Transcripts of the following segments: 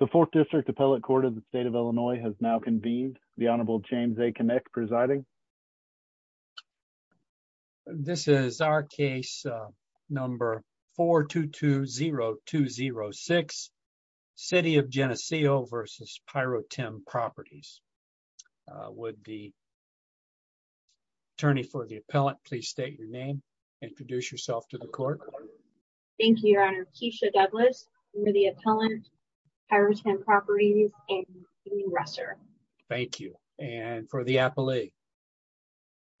The 4th District Appellate Court of the State of Illinois has now convened. The Honorable James A. Kinnick presiding. This is our case number 4220206, City of Geneseo v. Pyrotem Properties. Would the attorney for the appellant please state your name and introduce yourself to the court. Thank you, Your Honor. Keisha Douglas, I'm the appellant, Pyrotem Properties, and I'm the regressor. Thank you. And for the appellee?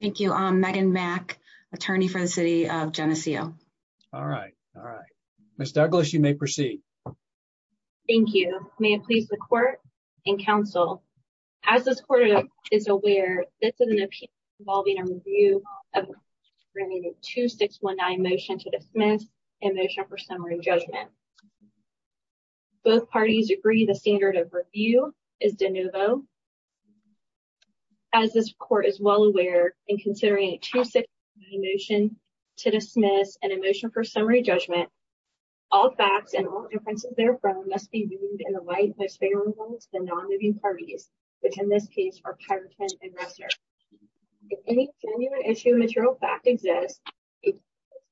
Thank you. I'm Megan Mack, attorney for the City of Geneseo. All right. All right. Ms. Douglas, you may proceed. Thank you. May it please the court and counsel. As this court is aware, this is an appeal involving a review of a 2619 motion to dismiss and a motion for summary judgment. Both parties agree the standard of review is de novo. As this court is well aware, in considering a 2619 motion to dismiss and a motion for summary judgment, all facts and all inferences therefrom must be viewed in the light most favorable to the non-moving parties, which in this case are Pyrotem and Ressler. If any genuine issue material fact exists, a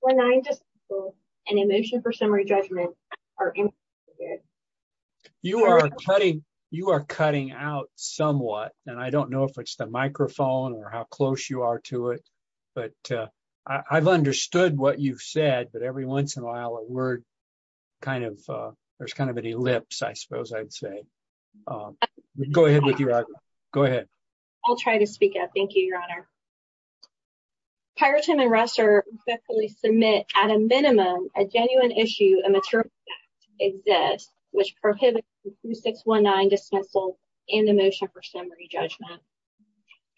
2619 decision and a motion for summary judgment are included. You are cutting out somewhat, and I don't know if it's the microphone or how close you are to it, but I've understood what you've said, but every once in a while a word kind of, there's kind of an ellipse, I suppose I'd say. Go ahead with your argument. Go ahead. I'll try to speak up. Thank you, Your Honor. Pyrotem and Ressler respectfully submit at a minimum a genuine issue and material fact exists which prohibits the 2619 dismissal and the motion for summary judgment.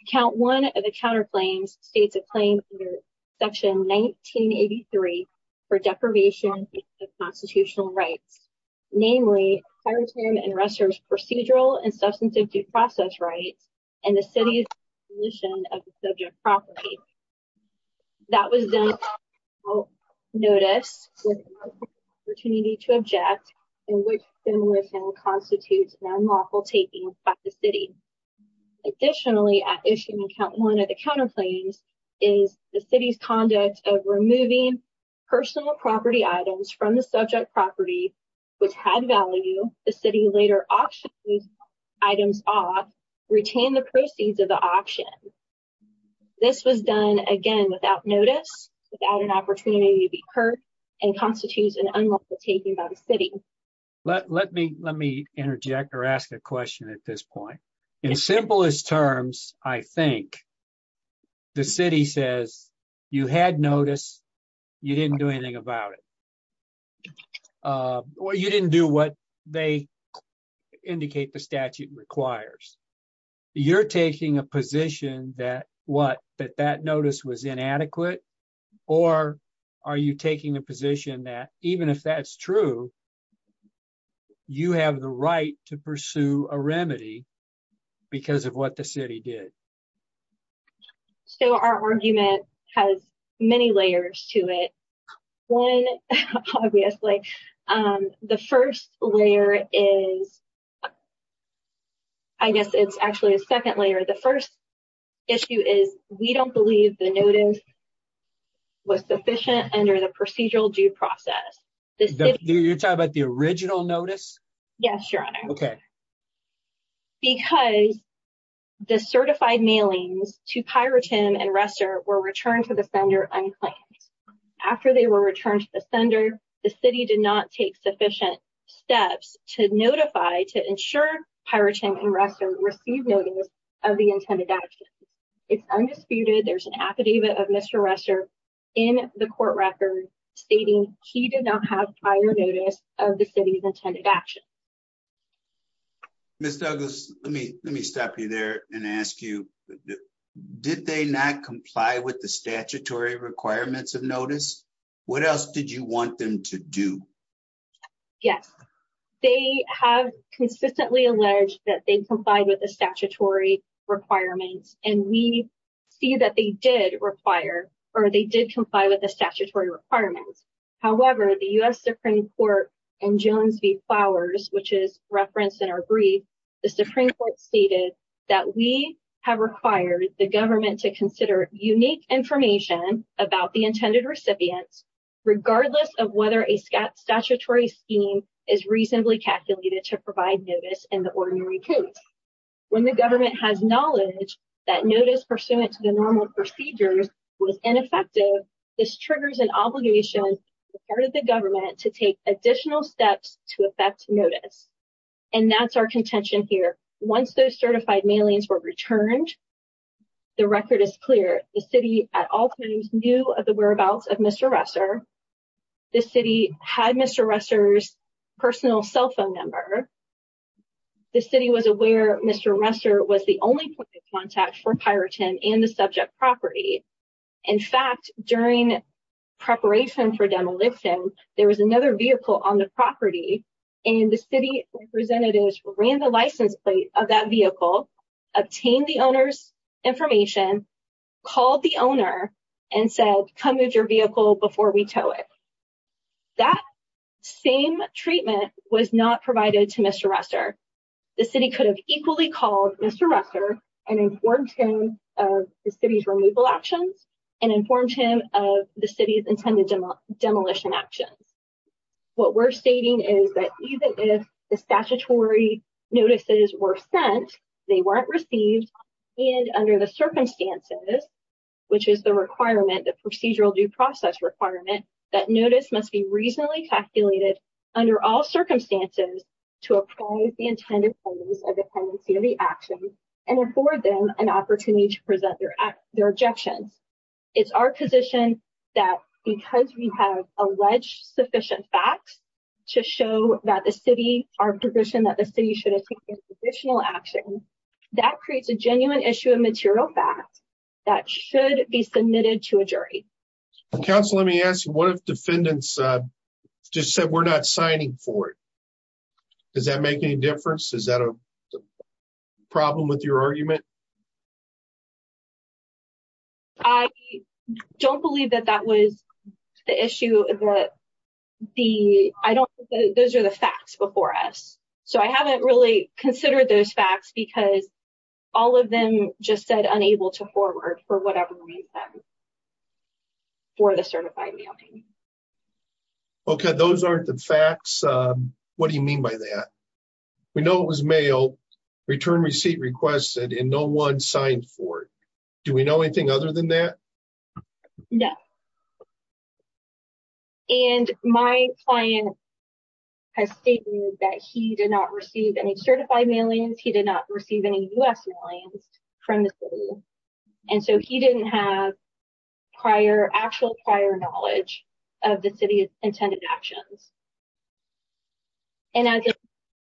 Account one of the counterclaims states a claim under section 1983 for deprivation of constitutional rights, namely Pyrotem and Ressler's procedural and substantive due process rights and the city's abolition of the subject property. That was then noticed with the opportunity to object in which demolition constitutes an unlawful taking by the city. Additionally, at issue one of the counterclaims is the city's conduct of removing personal property items from the subject property which had value, the city later auctioned these items off, retained the proceeds of the auction. This was done again without notice, without an opportunity to be heard, and constitutes an unlawful taking by the city. Let me interject or ask a question at this point. In simplest terms, I think the city says you had notice, you didn't do anything about it. Or you didn't do what they indicate the statute requires. You're taking a position that what that that notice was inadequate, or are you taking a position that even if that's true, you have the right to pursue a remedy because of what the city did. So our argument has many layers to it. One, obviously, the first layer is, I guess it's actually a second layer. The first issue is we don't believe the notice was sufficient under the procedural due process. You're talking about the original notice? Yes, Your Honor. Because the certified mailings to Pyrotim and Resser were returned to the sender unclaimed. After they were returned to the sender, the city did not take sufficient steps to notify, to ensure Pyrotim and Resser received notice of the intended action. It's undisputed, there's an affidavit of Mr. Resser in the court record stating he did not have prior notice of the city's intended action. Ms. Douglas, let me stop you there and ask you, did they not comply with the statutory requirements of notice? What else did you want them to do? Yes, they have consistently alleged that they complied with the statutory requirements, and we see that they did comply with the statutory requirements. However, the U.S. Supreme Court in Jones v. Flowers, which is referenced in our brief, the Supreme Court stated that we have required the government to consider unique information about the intended recipients, regardless of whether a statutory scheme is reasonably calculated to provide notice in the ordinary case. When the government has knowledge that notice pursuant to the normal procedures was ineffective, this triggers an obligation on the part of the government to take additional steps to effect notice, and that's our contention here. Once those certified mailings were returned, the record is clear. The city at all times knew of the whereabouts of Mr. Resser, the city had Mr. Resser's personal cell phone number, the city was aware Mr. Resser was the only point of contact for Pyrotim and the subject property. In fact, during preparation for demolition, there was another vehicle on the property, and the city representatives ran the license plate of that vehicle, obtained the owner's information, called the owner, and said, come move your vehicle before we tow it. That same treatment was not provided to Mr. Resser. The city could have equally called Mr. Resser and informed him of the city's removal actions, and informed him of the city's intended demolition actions. What we're stating is that even if the statutory notices were sent, they weren't received, and under the circumstances, which is the requirement, the procedural due process requirement, that notice must be reasonably calculated under all circumstances to approve the intended pendency of the actions and afford them an opportunity to present their objections. It's our position that because we have alleged sufficient facts to show that the city, our position that the city should have taken additional action, that creates a genuine issue of material facts that should be submitted to a jury. Council, let me ask you, what if defendants just said we're not signing for it? Does that make any difference? Is that a problem with your argument? I don't believe that that was the issue that the, I don't, those are the facts before us. So I haven't really considered those facts because all of them just said unable to forward for whatever reason for the certified mailing. Okay, those aren't the facts. What do you mean by that? We know it was mailed, return receipt requested, and no one signed for it. Do we know anything other than that? No. And my client has stated that he did not receive any certified mailings. He did not receive any U.S. mailings from the city. And so he didn't have prior, actual prior knowledge of the city's intended actions. And as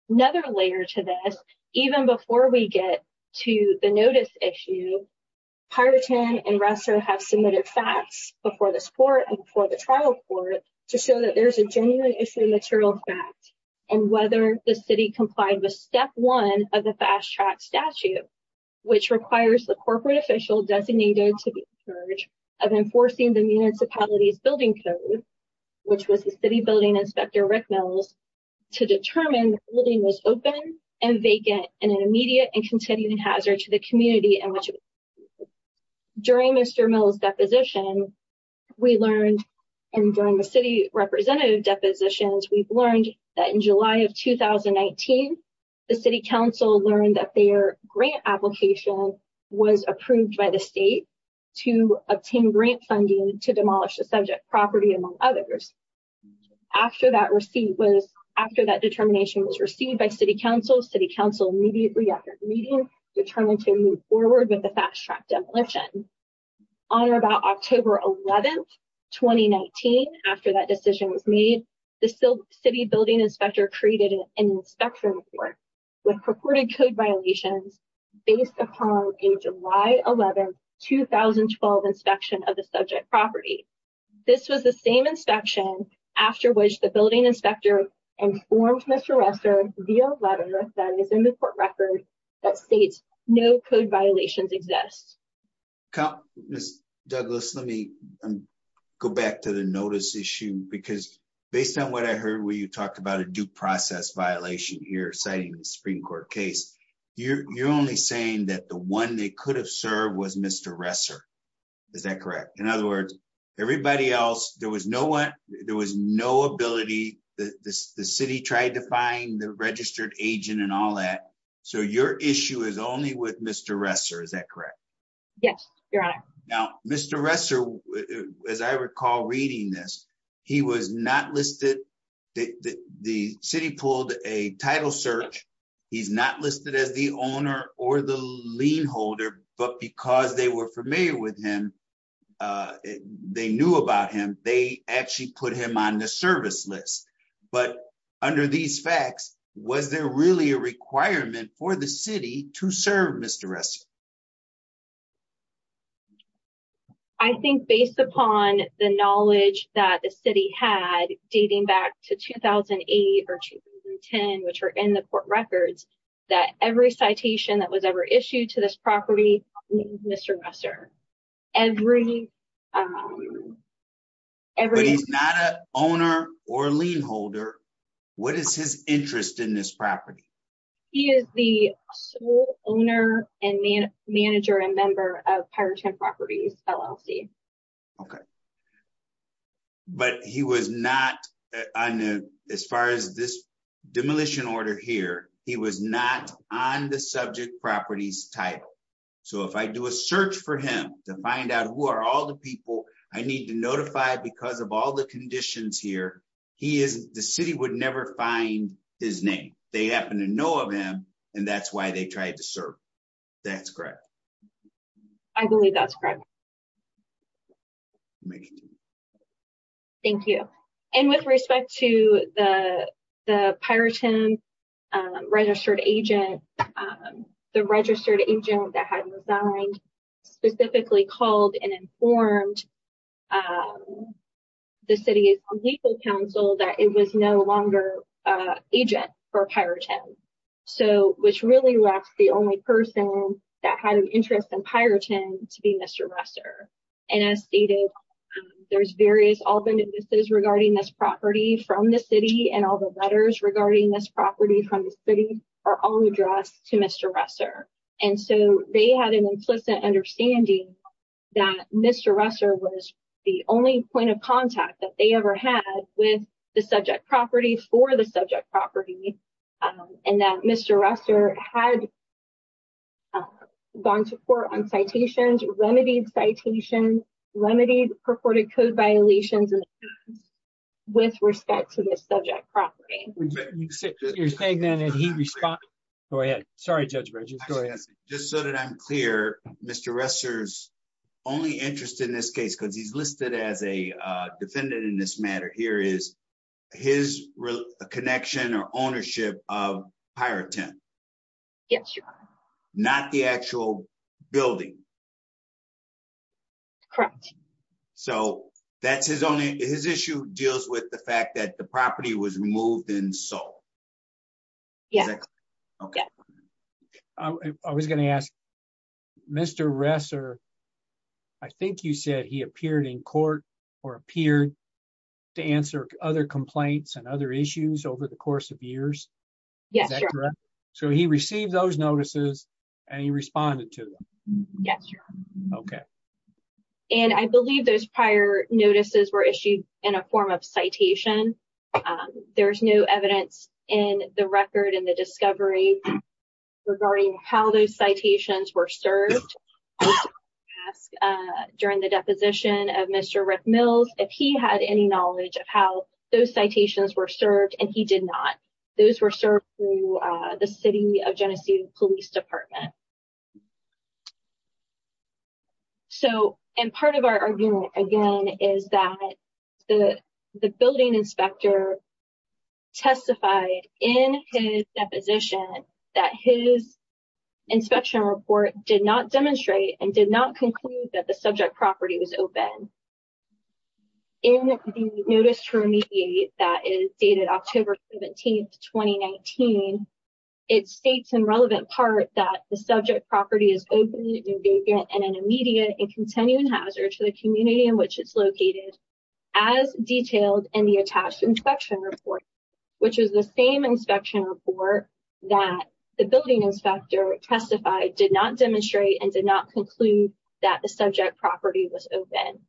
another layer to this, even before we get to the notice issue, Piraten and Resser have submitted facts before this court and before the trial court to show that there's a genuine issue of material facts and whether the city complied with step one of the fast track statute, which requires the corporate official designated to the purge of enforcing the municipalities building code, which was the city building inspector Rick Mills, to determine the building was open and vacant and an immediate and continuing hazard to the community. During Mr. Mills' deposition, we learned, and during the city representative depositions, we've learned that in July of 2019, the city council learned that their grant application was approved by the state to obtain grant funding to demolish the subject property, among others. After that receipt was, after that determination was received by city council, city council immediately after meeting determined to move forward with the fast track demolition. On or about October 11, 2019, after that decision was made, the city building inspector created an inspection report with purported code violations based upon a July 11, 2012 inspection of the subject property. This was the same inspection after which the building inspector informed Mr. Resser via letter that is in the court record that states no code violations exist. Ms. Douglas, let me go back to the notice issue, because based on what I heard when you talked about a due process violation here citing the Supreme Court case, you're only saying that the one they could have served was Mr. Resser. Is that correct? In other words, everybody else, there was no one, there was no ability, the city tried to find the registered agent and all that. So your issue is only with Mr. Resser, is that correct? Yes, Your Honor. Now, Mr. Resser, as I recall reading this, he was not listed, the city pulled a title search, he's not listed as the owner or the lien holder, but because they were familiar with him, they knew about him, they actually put him on the service list. But under these facts, was there really a requirement for the city to serve Mr. Resser? I think based upon the knowledge that the city had dating back to 2008 or 2010, which are in the court records, that every citation that was ever issued to this property, Mr. Resser. But he's not an owner or lien holder, what is his interest in this property? He is the sole owner and manager and member of Pirate Tent Properties, LLC. But he was not on, as far as this demolition order here, he was not on the subject properties title. So if I do a search for him to find out who are all the people I need to notify because of all the conditions here, he is, the city would never find his name. They happen to know of him, and that's why they tried to serve. That's correct. I believe that's correct. Thank you. And with respect to the Pirate Tent registered agent, the registered agent that had resigned specifically called and informed the city's legal counsel that it was no longer agent for Pirate Tent. Which really left the only person that had an interest in Pirate Tent to be Mr. Resser. And as stated, there's various all the notices regarding this property from the city and all the letters regarding this property from the city are all addressed to Mr. Resser. And so they had an implicit understanding that Mr. Resser was the only point of contact that they ever had with the subject property for the subject property. And that Mr. Resser had gone to court on citations, remedied citations, remedied purported code violations with respect to the subject property. You're saying that he responded. Go ahead. Sorry, Judge Bridges. Just so that I'm clear, Mr. Resser's only interest in this case because he's listed as a defendant in this matter here is his connection or ownership of Pirate Tent. Yes. Not the actual building. Correct. So that's his only his issue deals with the fact that the property was removed and sold. Yes. I was going to ask Mr. Resser. I think you said he appeared in court or appeared to answer other complaints and other issues over the course of years. Yes. So he received those notices and he responded to them. Yes. Okay. And I believe those prior notices were issued in a form of citation. There's no evidence in the record and the discovery regarding how those citations were served. During the deposition of Mr. Rick Mills, if he had any knowledge of how those citations were served and he did not. Those were served through the city of Genesee Police Department. So, and part of our argument again is that the building inspector testified in his deposition that his inspection report did not demonstrate and did not conclude that the subject property was open. In the notice to remediate that is dated October 17th, 2019. It states in relevant part that the subject property is open and immediate and continuing hazard to the community in which it's located. As detailed in the attached inspection report, which is the same inspection report that the building inspector testified did not demonstrate and did not conclude that the subject property was open.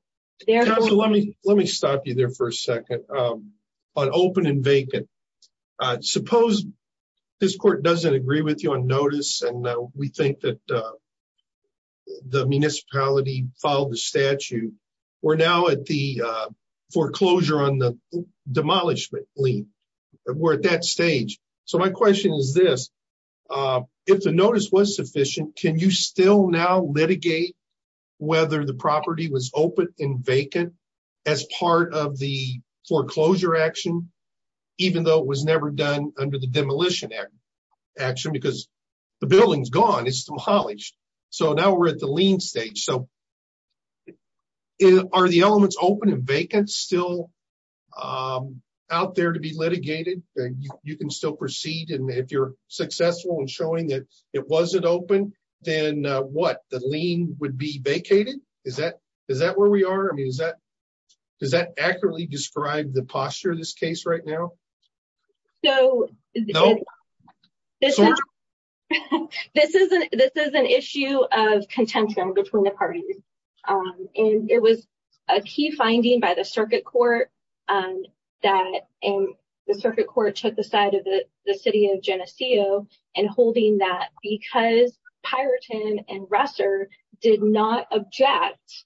Let me stop you there for a second on open and vacant. Suppose this court doesn't agree with you on notice and we think that the municipality followed the statute. We're now at the foreclosure on the demolishment lien. We're at that stage. So my question is this, if the notice was sufficient, can you still now litigate whether the property was open and vacant as part of the foreclosure action? Even though it was never done under the demolition action because the building's gone, it's demolished. So now we're at the lien stage. So are the elements open and vacant still out there to be litigated? You can still proceed. And if you're successful in showing that it wasn't open, then what? The lien would be vacated? Is that where we are? Does that accurately describe the posture of this case right now? This is an issue of contention between the parties. It was a key finding by the circuit court that the circuit court took the side of the city of Geneseo and holding that because Pyroton and Russer did not object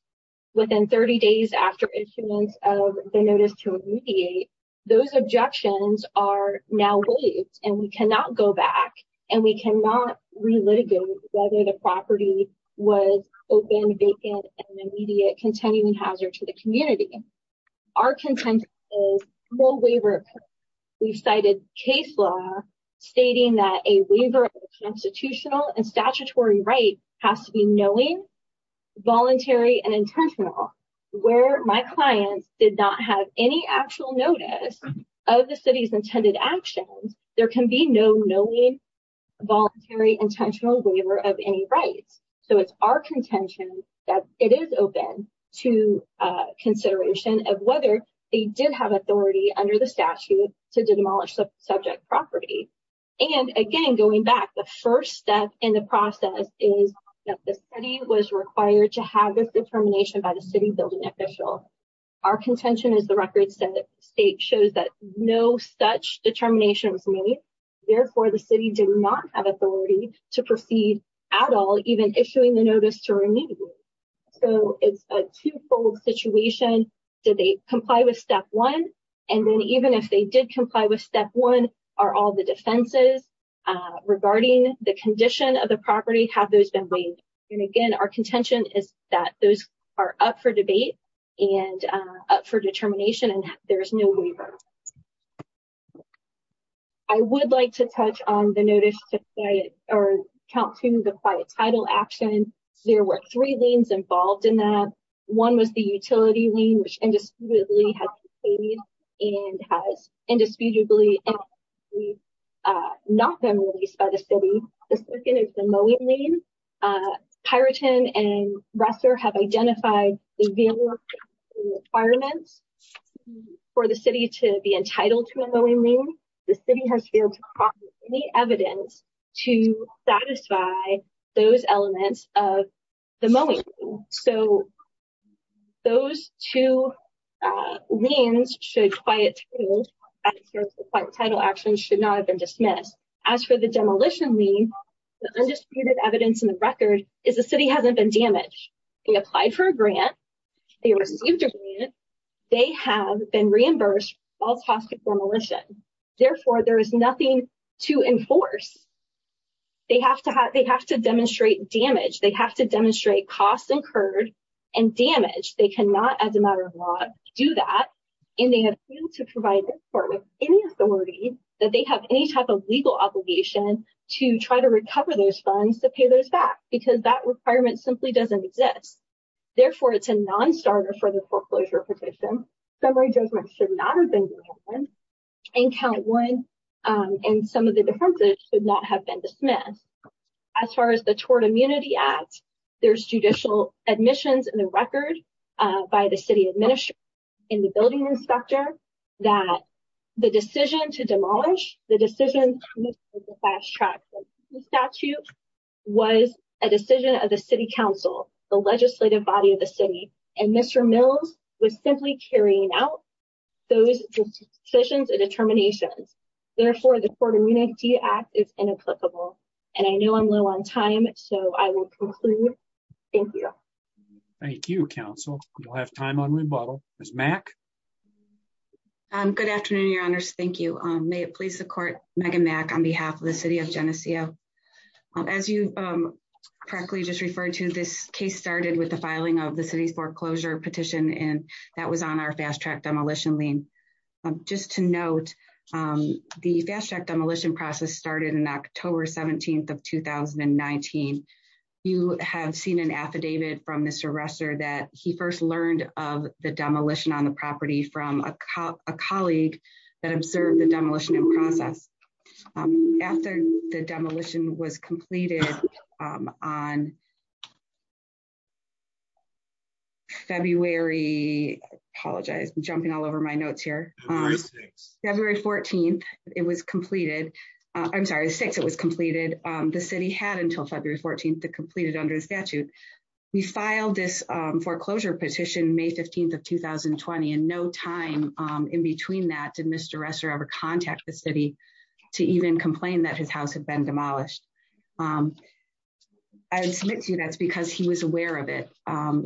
within 30 days after issuance of the notice to mediate. Those objections are now waived and we cannot go back and we cannot relitigate whether the property was open, vacant, and an immediate continuing hazard to the community. Our contention is no waiver occurred. We cited case law stating that a waiver of constitutional and statutory right has to be knowing, voluntary, and intentional. Where my clients did not have any actual notice of the city's intended actions, there can be no knowing, voluntary, intentional waiver of any rights. So it's our contention that it is open to consideration of whether they did have authority under the statute to demolish the subject property. And again, going back, the first step in the process is that the city was required to have this determination by the city building official. Our contention is the record state shows that no such determination was made. Therefore, the city did not have authority to proceed at all, even issuing the notice to remediate. So it's a twofold situation. Did they comply with step one? And then even if they did comply with step one, are all the defenses regarding the condition of the property, have those been waived? And again, our contention is that those are up for debate and up for determination, and there is no waiver. I would like to touch on the notice to cite or count to the quiet title action. There were three liens involved in that. One was the utility lien, which indisputably has been paid and has indisputably not been released by the city. The second is the mowing lien. Pyroton and Russer have identified the requirements for the city to be entitled to a mowing lien. The city has failed to provide any evidence to satisfy those elements of the mowing lien. So those two liens should quiet title actions should not have been dismissed. As for the demolition lien, the undisputed evidence in the record is the city hasn't been damaged. They applied for a grant. They received a grant. They have been reimbursed false hospitalization. Therefore, there is nothing to enforce. They have to demonstrate damage. They have to demonstrate cost incurred and damage. They cannot, as a matter of law, do that. And they have failed to provide any authority that they have any type of legal obligation to try to recover those funds to pay those back because that requirement simply doesn't exist. Therefore, it's a nonstarter for the foreclosure petition. Summary judgment should not have been given. And count one and some of the differences should not have been dismissed. As far as the toward immunity act, there's judicial admissions in the record by the city administrator in the building inspector that the decision to demolish the decision. The statute was a decision of the city council, the legislative body of the city. And Mr. Mills was simply carrying out those decisions and determinations. Therefore, the court immunity act is inapplicable. And I know I'm low on time. So I will conclude. Thank you. Thank you, counsel. We'll have time on rebuttal as Mac. Good afternoon, your honors. Thank you. May it please the court, Megan Mac on behalf of the city of Geneseo. As you correctly just referred to this case started with the filing of the city's foreclosure petition and that was on our fast track demolition lien. Just to note, the fast track demolition process started in October 17 of 2019. You have seen an affidavit from Mr Rester that he first learned of the demolition on the property from a cop, a colleague that observed the demolition process. After the demolition was completed on February apologize jumping all over my notes here. February 14, it was completed. I'm sorry six it was completed. The city had until February 14 to completed under the statute. We filed this foreclosure petition may 15 of 2020 and no time in between that to Mr Rester ever contact the city to even complain that his house had been demolished. I submit to you that's because he was aware of it.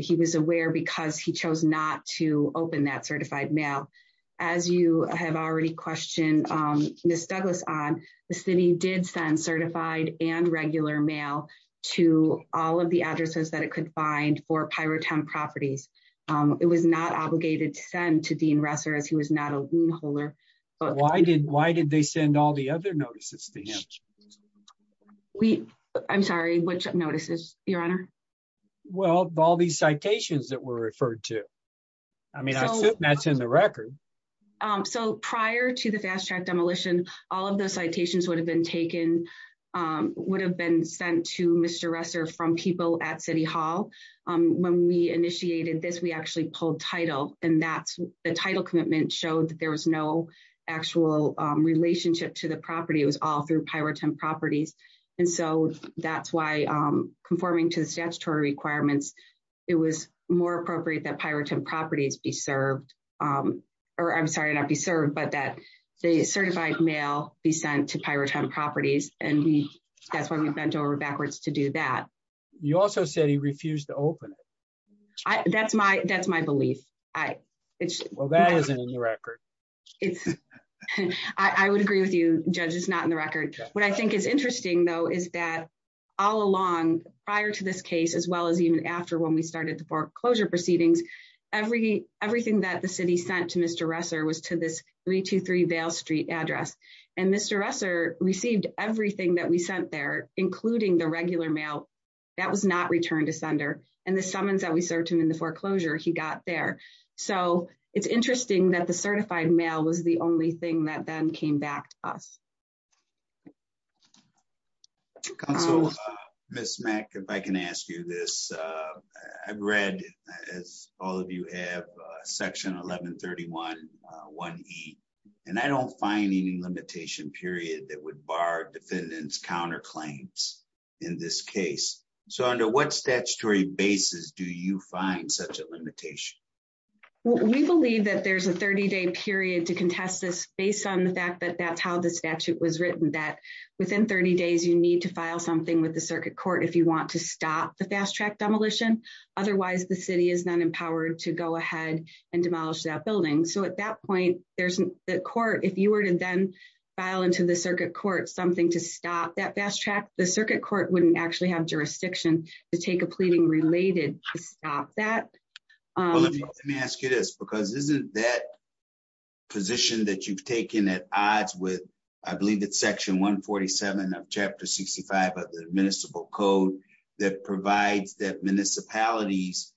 He was aware because he chose not to open that certified mail. As you have already questioned. Miss Douglas on the city did send certified and regular mail to all of the addresses that it could find for pirate town properties. It was not obligated to send to Dean Resser as he was not a holder. But why did why did they send all the other notices to him. We, I'm sorry, which notices, Your Honor. Well, all these citations that were referred to. I mean, that's in the record. So prior to the fast track demolition, all of those citations would have been taken would have been sent to Mr Resser from people at City Hall. When we initiated this we actually pulled title, and that's the title commitment showed that there was no actual relationship to the property was all through pirate and properties. And so, that's why I'm conforming to the statutory requirements. It was more appropriate that pirate and properties be served, or I'm sorry not be served but that they certified mail be sent to pirate properties, and that's why we bent over backwards to do that. You also said he refused to open it. That's my, that's my belief. I, it's well that isn't in the record. I would agree with you, judges not in the record. What I think is interesting though is that all along, prior to this case as well as even after when we started the foreclosure proceedings, every, everything that the city sent to Mr Resser was to this 323 he got there. So, it's interesting that the certified mail was the only thing that then came back to us. So, Miss Mac, if I can ask you this. I've read, as all of you have section 1131 one. And I don't find any limitation period that would bar defendants counterclaims. In this case, so under what statutory basis do you find such a limitation. We believe that there's a 30 day period to contest this based on the fact that that's how the statute was written that within 30 days you need to file something with the circuit court if you want to stop the fast track demolition. Otherwise the city is not empowered to go ahead and demolish that building so at that point, there's the court if you were to then file into the circuit court something to stop that fast track the circuit court wouldn't actually have jurisdiction to take a pleading related to stop that. Let me ask you this because isn't that position that you've taken at odds with, I believe that section 147 of chapter 65 of the municipal code that provides that municipalities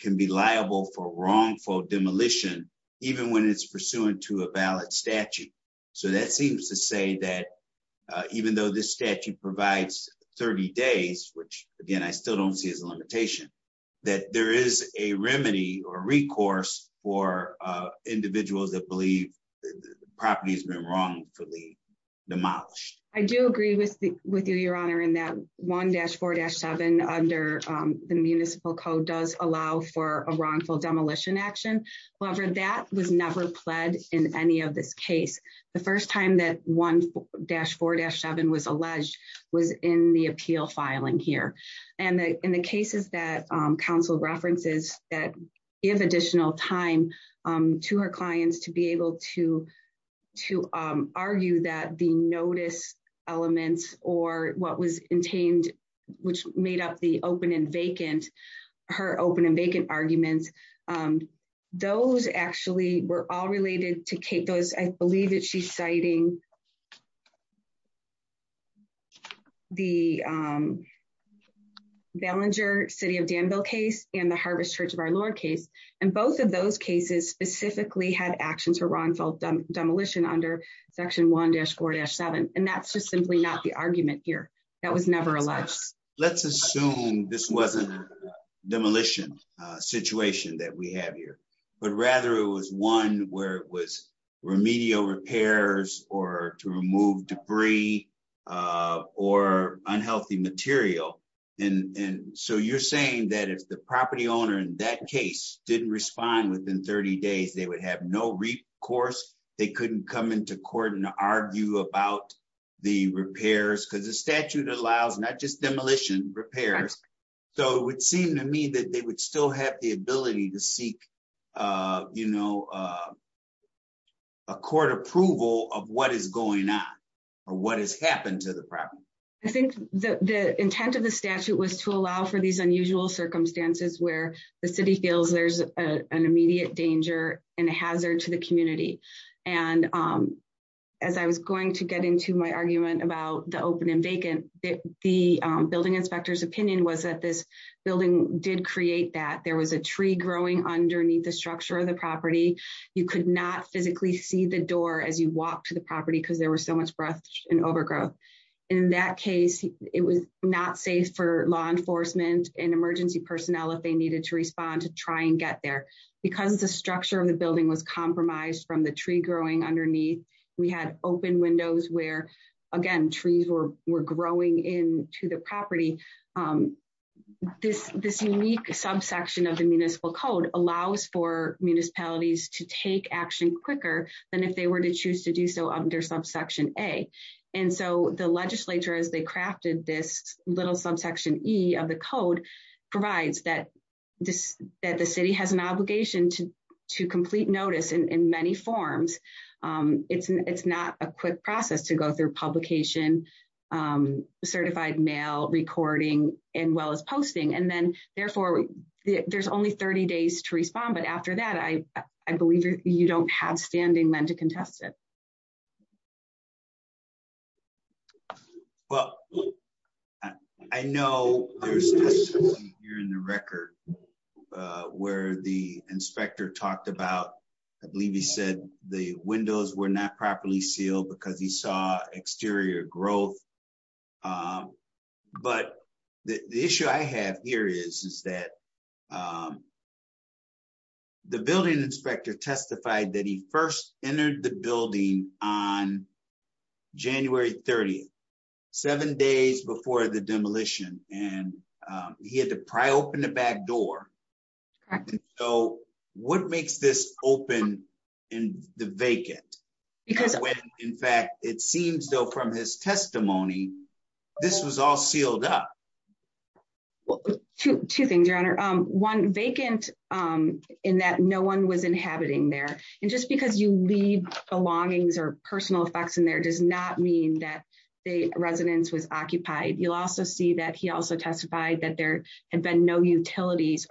can be liable for wrongful demolition, even when it's pursuant to a valid So that seems to say that even though this statute provides 30 days, which, again, I still don't see as a limitation that there is a remedy or recourse for individuals that believe the property has been wrongfully demolished. I do agree with the with you Your Honor in that one dash four dash seven under the municipal code does allow for a wrongful demolition action. However, that was never pled in any of this case, the first time that one dash four dash seven was alleged was in the elements, or what was contained, which made up the open and vacant her open and vacant arguments. Those actually were all related to Kate those I believe that she's citing the Ballenger city of Danville case in the harvest church of our Lord case, and both of those cases specifically had actions or wrongful demolition under section one dash four dash seven, and that's just simply not the argument here. That was never alleged. Let's assume this wasn't demolition situation that we have here, but rather it was one where it was remedial repairs or to remove debris or unhealthy material. And so you're saying that if the property owner in that case didn't respond within 30 days they would have no recourse, they couldn't come into court and argue about the repairs because the statute allows not just demolition repairs. So it would seem to me that they would still have the ability to seek, you know, a court approval of what is going on, or what has happened to the property. I think the intent of the statute was to allow for these unusual circumstances where the city feels there's an immediate danger and hazard to the community. And as I was going to get into my argument about the open and vacant, the building inspectors opinion was that this building did create that there was a tree growing underneath the structure of the property. You could not physically see the door as you walk to the property because there was so much breath and overgrowth. In that case, it was not safe for law enforcement and emergency personnel if they needed to respond to try and get there, because the structure of the building was compromised from the tree growing underneath. We had open windows where again trees were were growing in to the property. This, this unique subsection of the municipal code allows for municipalities to take action quicker than if they were to choose to do so under subsection A. And so the legislature as they crafted this little subsection E of the code provides that this that the city has an obligation to to complete notice in many forms. It's, it's not a quick process to go through publication, certified mail recording, and well as posting and then, therefore, there's only 30 days to respond but after that I, I believe you don't have standing men to contest it. Well, I know you're in the record. Where the inspector talked about, I believe he said the windows were not properly sealed because he saw exterior growth. But the issue I have here is, is that the building inspector testified that he first entered the building on January 30, seven days before the demolition, and he had to pry open the back door. So, what makes this open in the vacant. Because, in fact, it seems though from his testimony. This was all sealed up. Two things your honor one vacant in that no one was inhabiting there. And just because you leave belongings or personal facts in there does not mean that the residents was occupied, you'll also see that he also testified that there had been no property maintenance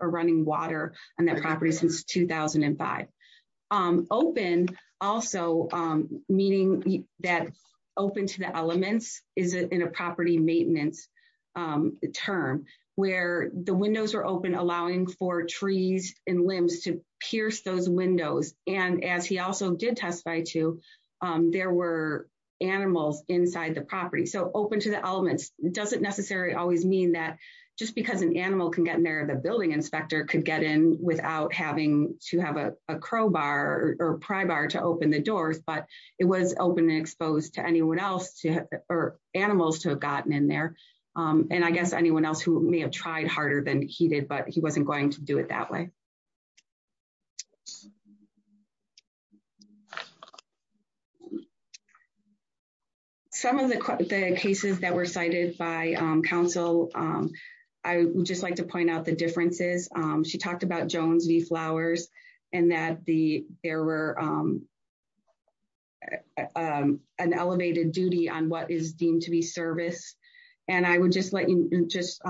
term where the windows are open allowing for trees and limbs to pierce those windows, and as he also did testify to. There were animals inside the property so open to the elements doesn't necessarily always mean that just because an animal can get in there the building inspector could get in, without having to have a crowbar or pry bar to open the doors but it was some of the cases that were cited by Council. I would just like to point out the differences. She talked about Jones the flowers, and that the error. An elevated duty on what is deemed to be service. And I would just let you just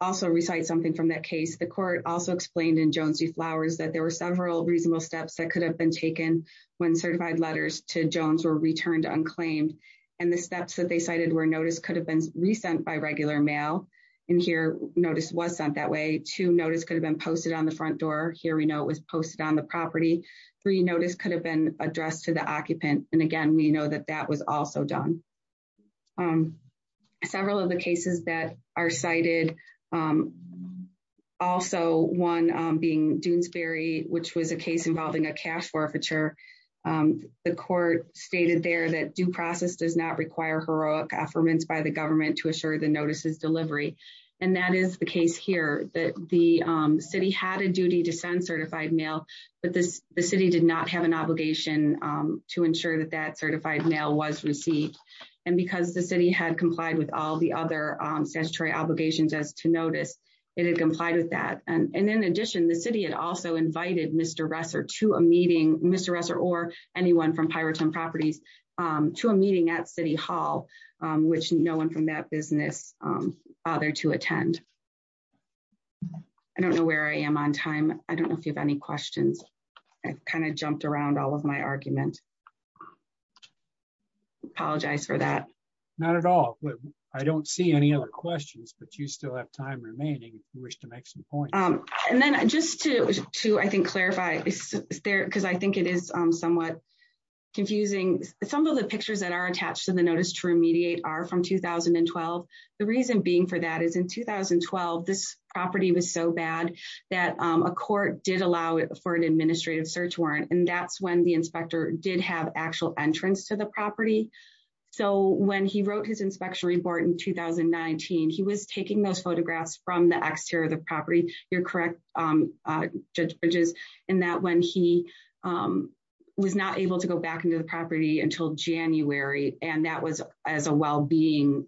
also recite something from that case the court also explained in Jones the flowers that there were several reasonable steps that could have been taken when certified letters to Jones were returned unclaimed, and the steps that they cited where notice could have been resent by regular mail in here, notice was sent that way to notice could have been posted on the front door here we know it was posted on the property. Three notice could have been addressed to the occupant and again we know that that was also done. Several of the cases that are cited. Also, one being Doonesbury, which was a case involving a cash forfeiture. The court stated there that due process does not require heroic affirmance by the government to assure the notices delivery. And that is the case here that the city had a duty to send certified mail, but this, the city did not have an obligation to ensure that that certified mail was received. And because the city had complied with all the other statutory obligations as to notice it had complied with that. And in addition, the city had also invited Mr Resser to a meeting, Mr Resser or anyone from pirate and properties to a meeting at City Hall, which no one from that business. Other to attend. I don't know where I am on time. I don't know if you have any questions. I kind of jumped around all of my argument. Apologize for that. Not at all. I don't see any other questions but you still have time remaining wish to make some points. And then, just to, to I think clarify there because I think it is somewhat confusing. Some of the pictures that are attached to the notice to remediate are from 2012. The reason being for that is in 2012 this property was so bad that a court did allow it for an administrative search warrant and that's when the inspector did have actual entrance to the property. So when he wrote his inspection report in 2019 he was taking those photographs from the exterior of the property, you're correct. Judges in that when he was not able to go back into the property until January, and that was as a well being.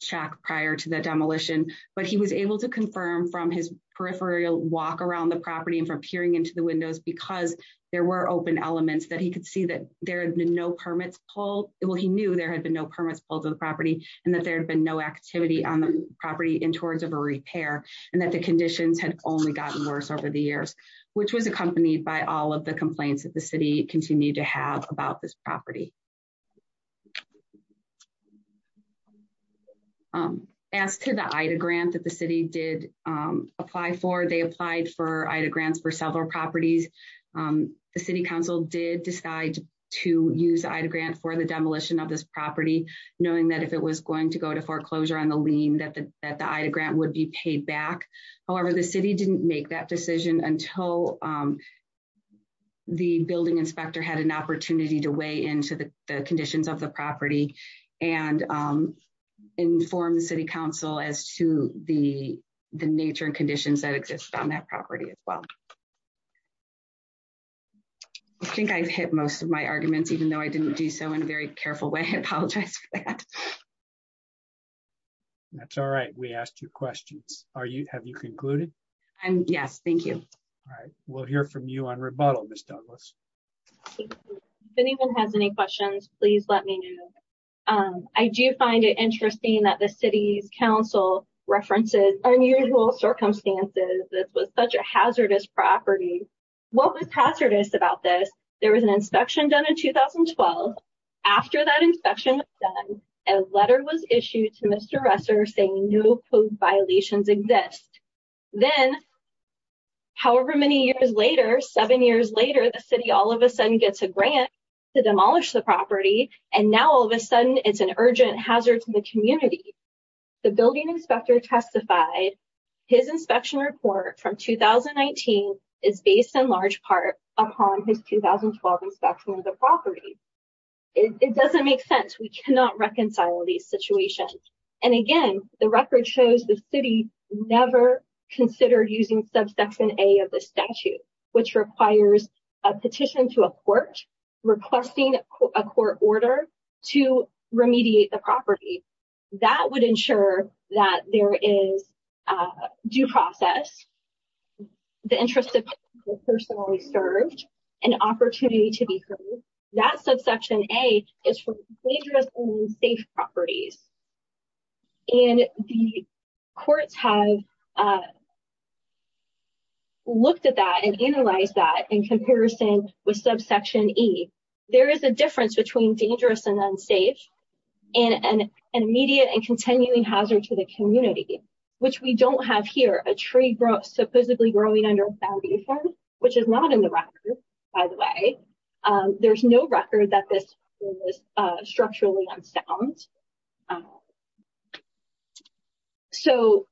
Check prior to the demolition, but he was able to confirm from his peripheral walk around the property and from peering into the windows because there were open elements that he could see that there are no permits pull it will he knew there had been no and that there have been no activity on the property in towards of a repair, and that the conditions had only gotten worse over the years, which was accompanied by all of the complaints that the city continue to have about this property. As to the IDA grant that the city did apply for they applied for IDA grants for several properties. The city council did decide to use IDA grant for the demolition of this property, knowing that if it was going to go to foreclosure on the lien that the IDA grant would be paid back. However, the city didn't make that decision until the building inspector had an opportunity to weigh into the conditions of the property and inform the city council as to the, the nature and conditions that exist on that property as well. I think I've hit most of my arguments even though I didn't do so in a very careful way I apologize. That's all right, we asked you questions, are you have you concluded. And yes, thank you. All right, we'll hear from you on rebuttal Miss Douglas. Anyone has any questions, please let me know. I do find it interesting that the city's council references unusual circumstances, this was such a hazardous property. What was hazardous about this, there was an inspection done in 2012. After that inspection, a letter was issued to Mr. Resser saying no code violations exist. Then, however many years later seven years later the city all of a sudden gets a grant to demolish the property, and now all of a sudden it's an urgent hazard to the community. The building inspector testified his inspection report from 2019 is based in large part upon his 2012 inspection of the property. It doesn't make sense we cannot reconcile these situations. And again, the record shows the city, never considered using subsection a of the statute, which requires a petition to a court, requesting a court order to remediate the property. That would ensure that there is due process, the interest of the person who served, an opportunity to be heard. That subsection a is for dangerous and unsafe properties. And the courts have looked at that and analyze that in comparison with subsection e. There is a difference between dangerous and unsafe, and an immediate and continuing hazard to the community, which we don't have here, a tree growth supposedly growing under foundation, which is not in the record, by the way. There's no record that this is structurally sound. So,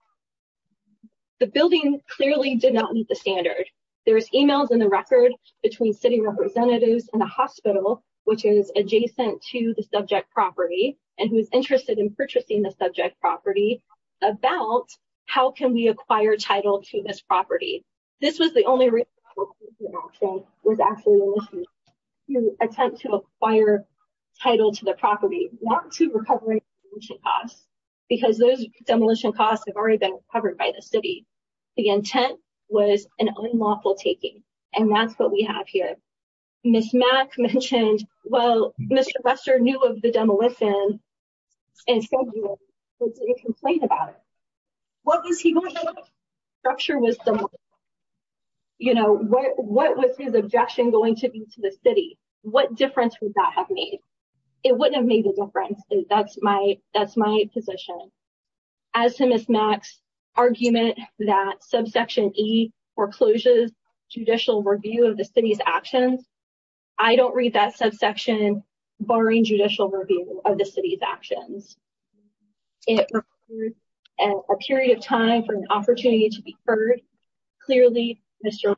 the building clearly did not meet the standard. There's emails in the record between city representatives and the hospital, which is adjacent to the subject property, and who's interested in purchasing the subject property about how can we acquire title to this property. This was the only attempt to acquire title to the property, not to recovery costs, because those demolition costs have already been covered by the city. The intent was an unlawful taking. And that's what we have here. Ms. Mack mentioned, well, Mr. Lester knew of the demolition and said he didn't complain about it. What was he going to structure was, you know, what was his objection going to be to the city? What difference would that have made? It wouldn't have made a difference. That's my that's my position. As soon as Max argument that subsection E foreclosures judicial review of the city's actions. I don't read that subsection barring judicial review of the city's actions. And a period of time for an opportunity to be heard. Clearly, Mr.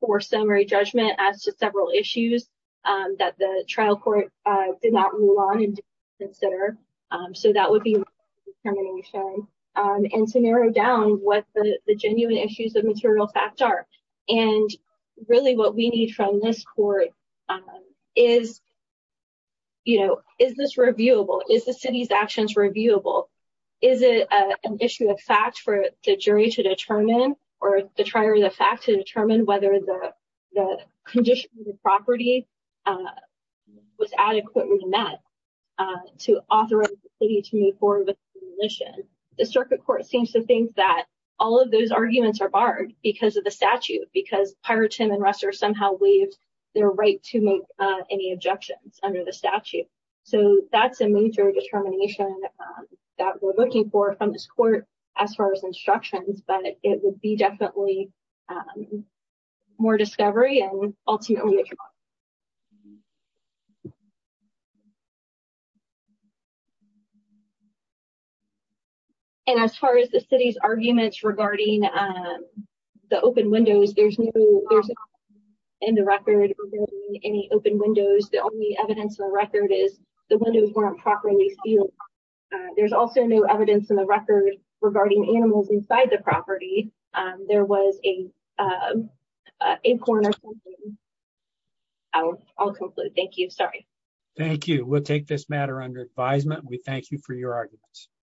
for summary judgment as to several issues that the trial court did not move on and consider. So that would be determination and to narrow down what the genuine issues of material fact are and really what we need from this court is. You know, is this reviewable is the city's actions reviewable? Is it an issue of fact for the jury to determine, or the trial is a fact to determine whether the condition of the property was adequately met to authorize the city to move forward with the mission. The circuit court seems to think that all of those arguments are barred because of the statute, because prior to him and Ruster somehow waived their right to make any objections under the statute. So, that's a major determination that we're looking for from this court as far as instructions, but it would be definitely more discovery and ultimately. And as far as the city's arguments regarding the open windows, there's in the record any open windows. The only evidence of the record is the windows weren't properly sealed. There's also no evidence in the record regarding animals inside the property. There was a corner. I'll conclude. Thank you. Sorry. Thank you. We'll take this matter under advisement. We thank you for your arguments.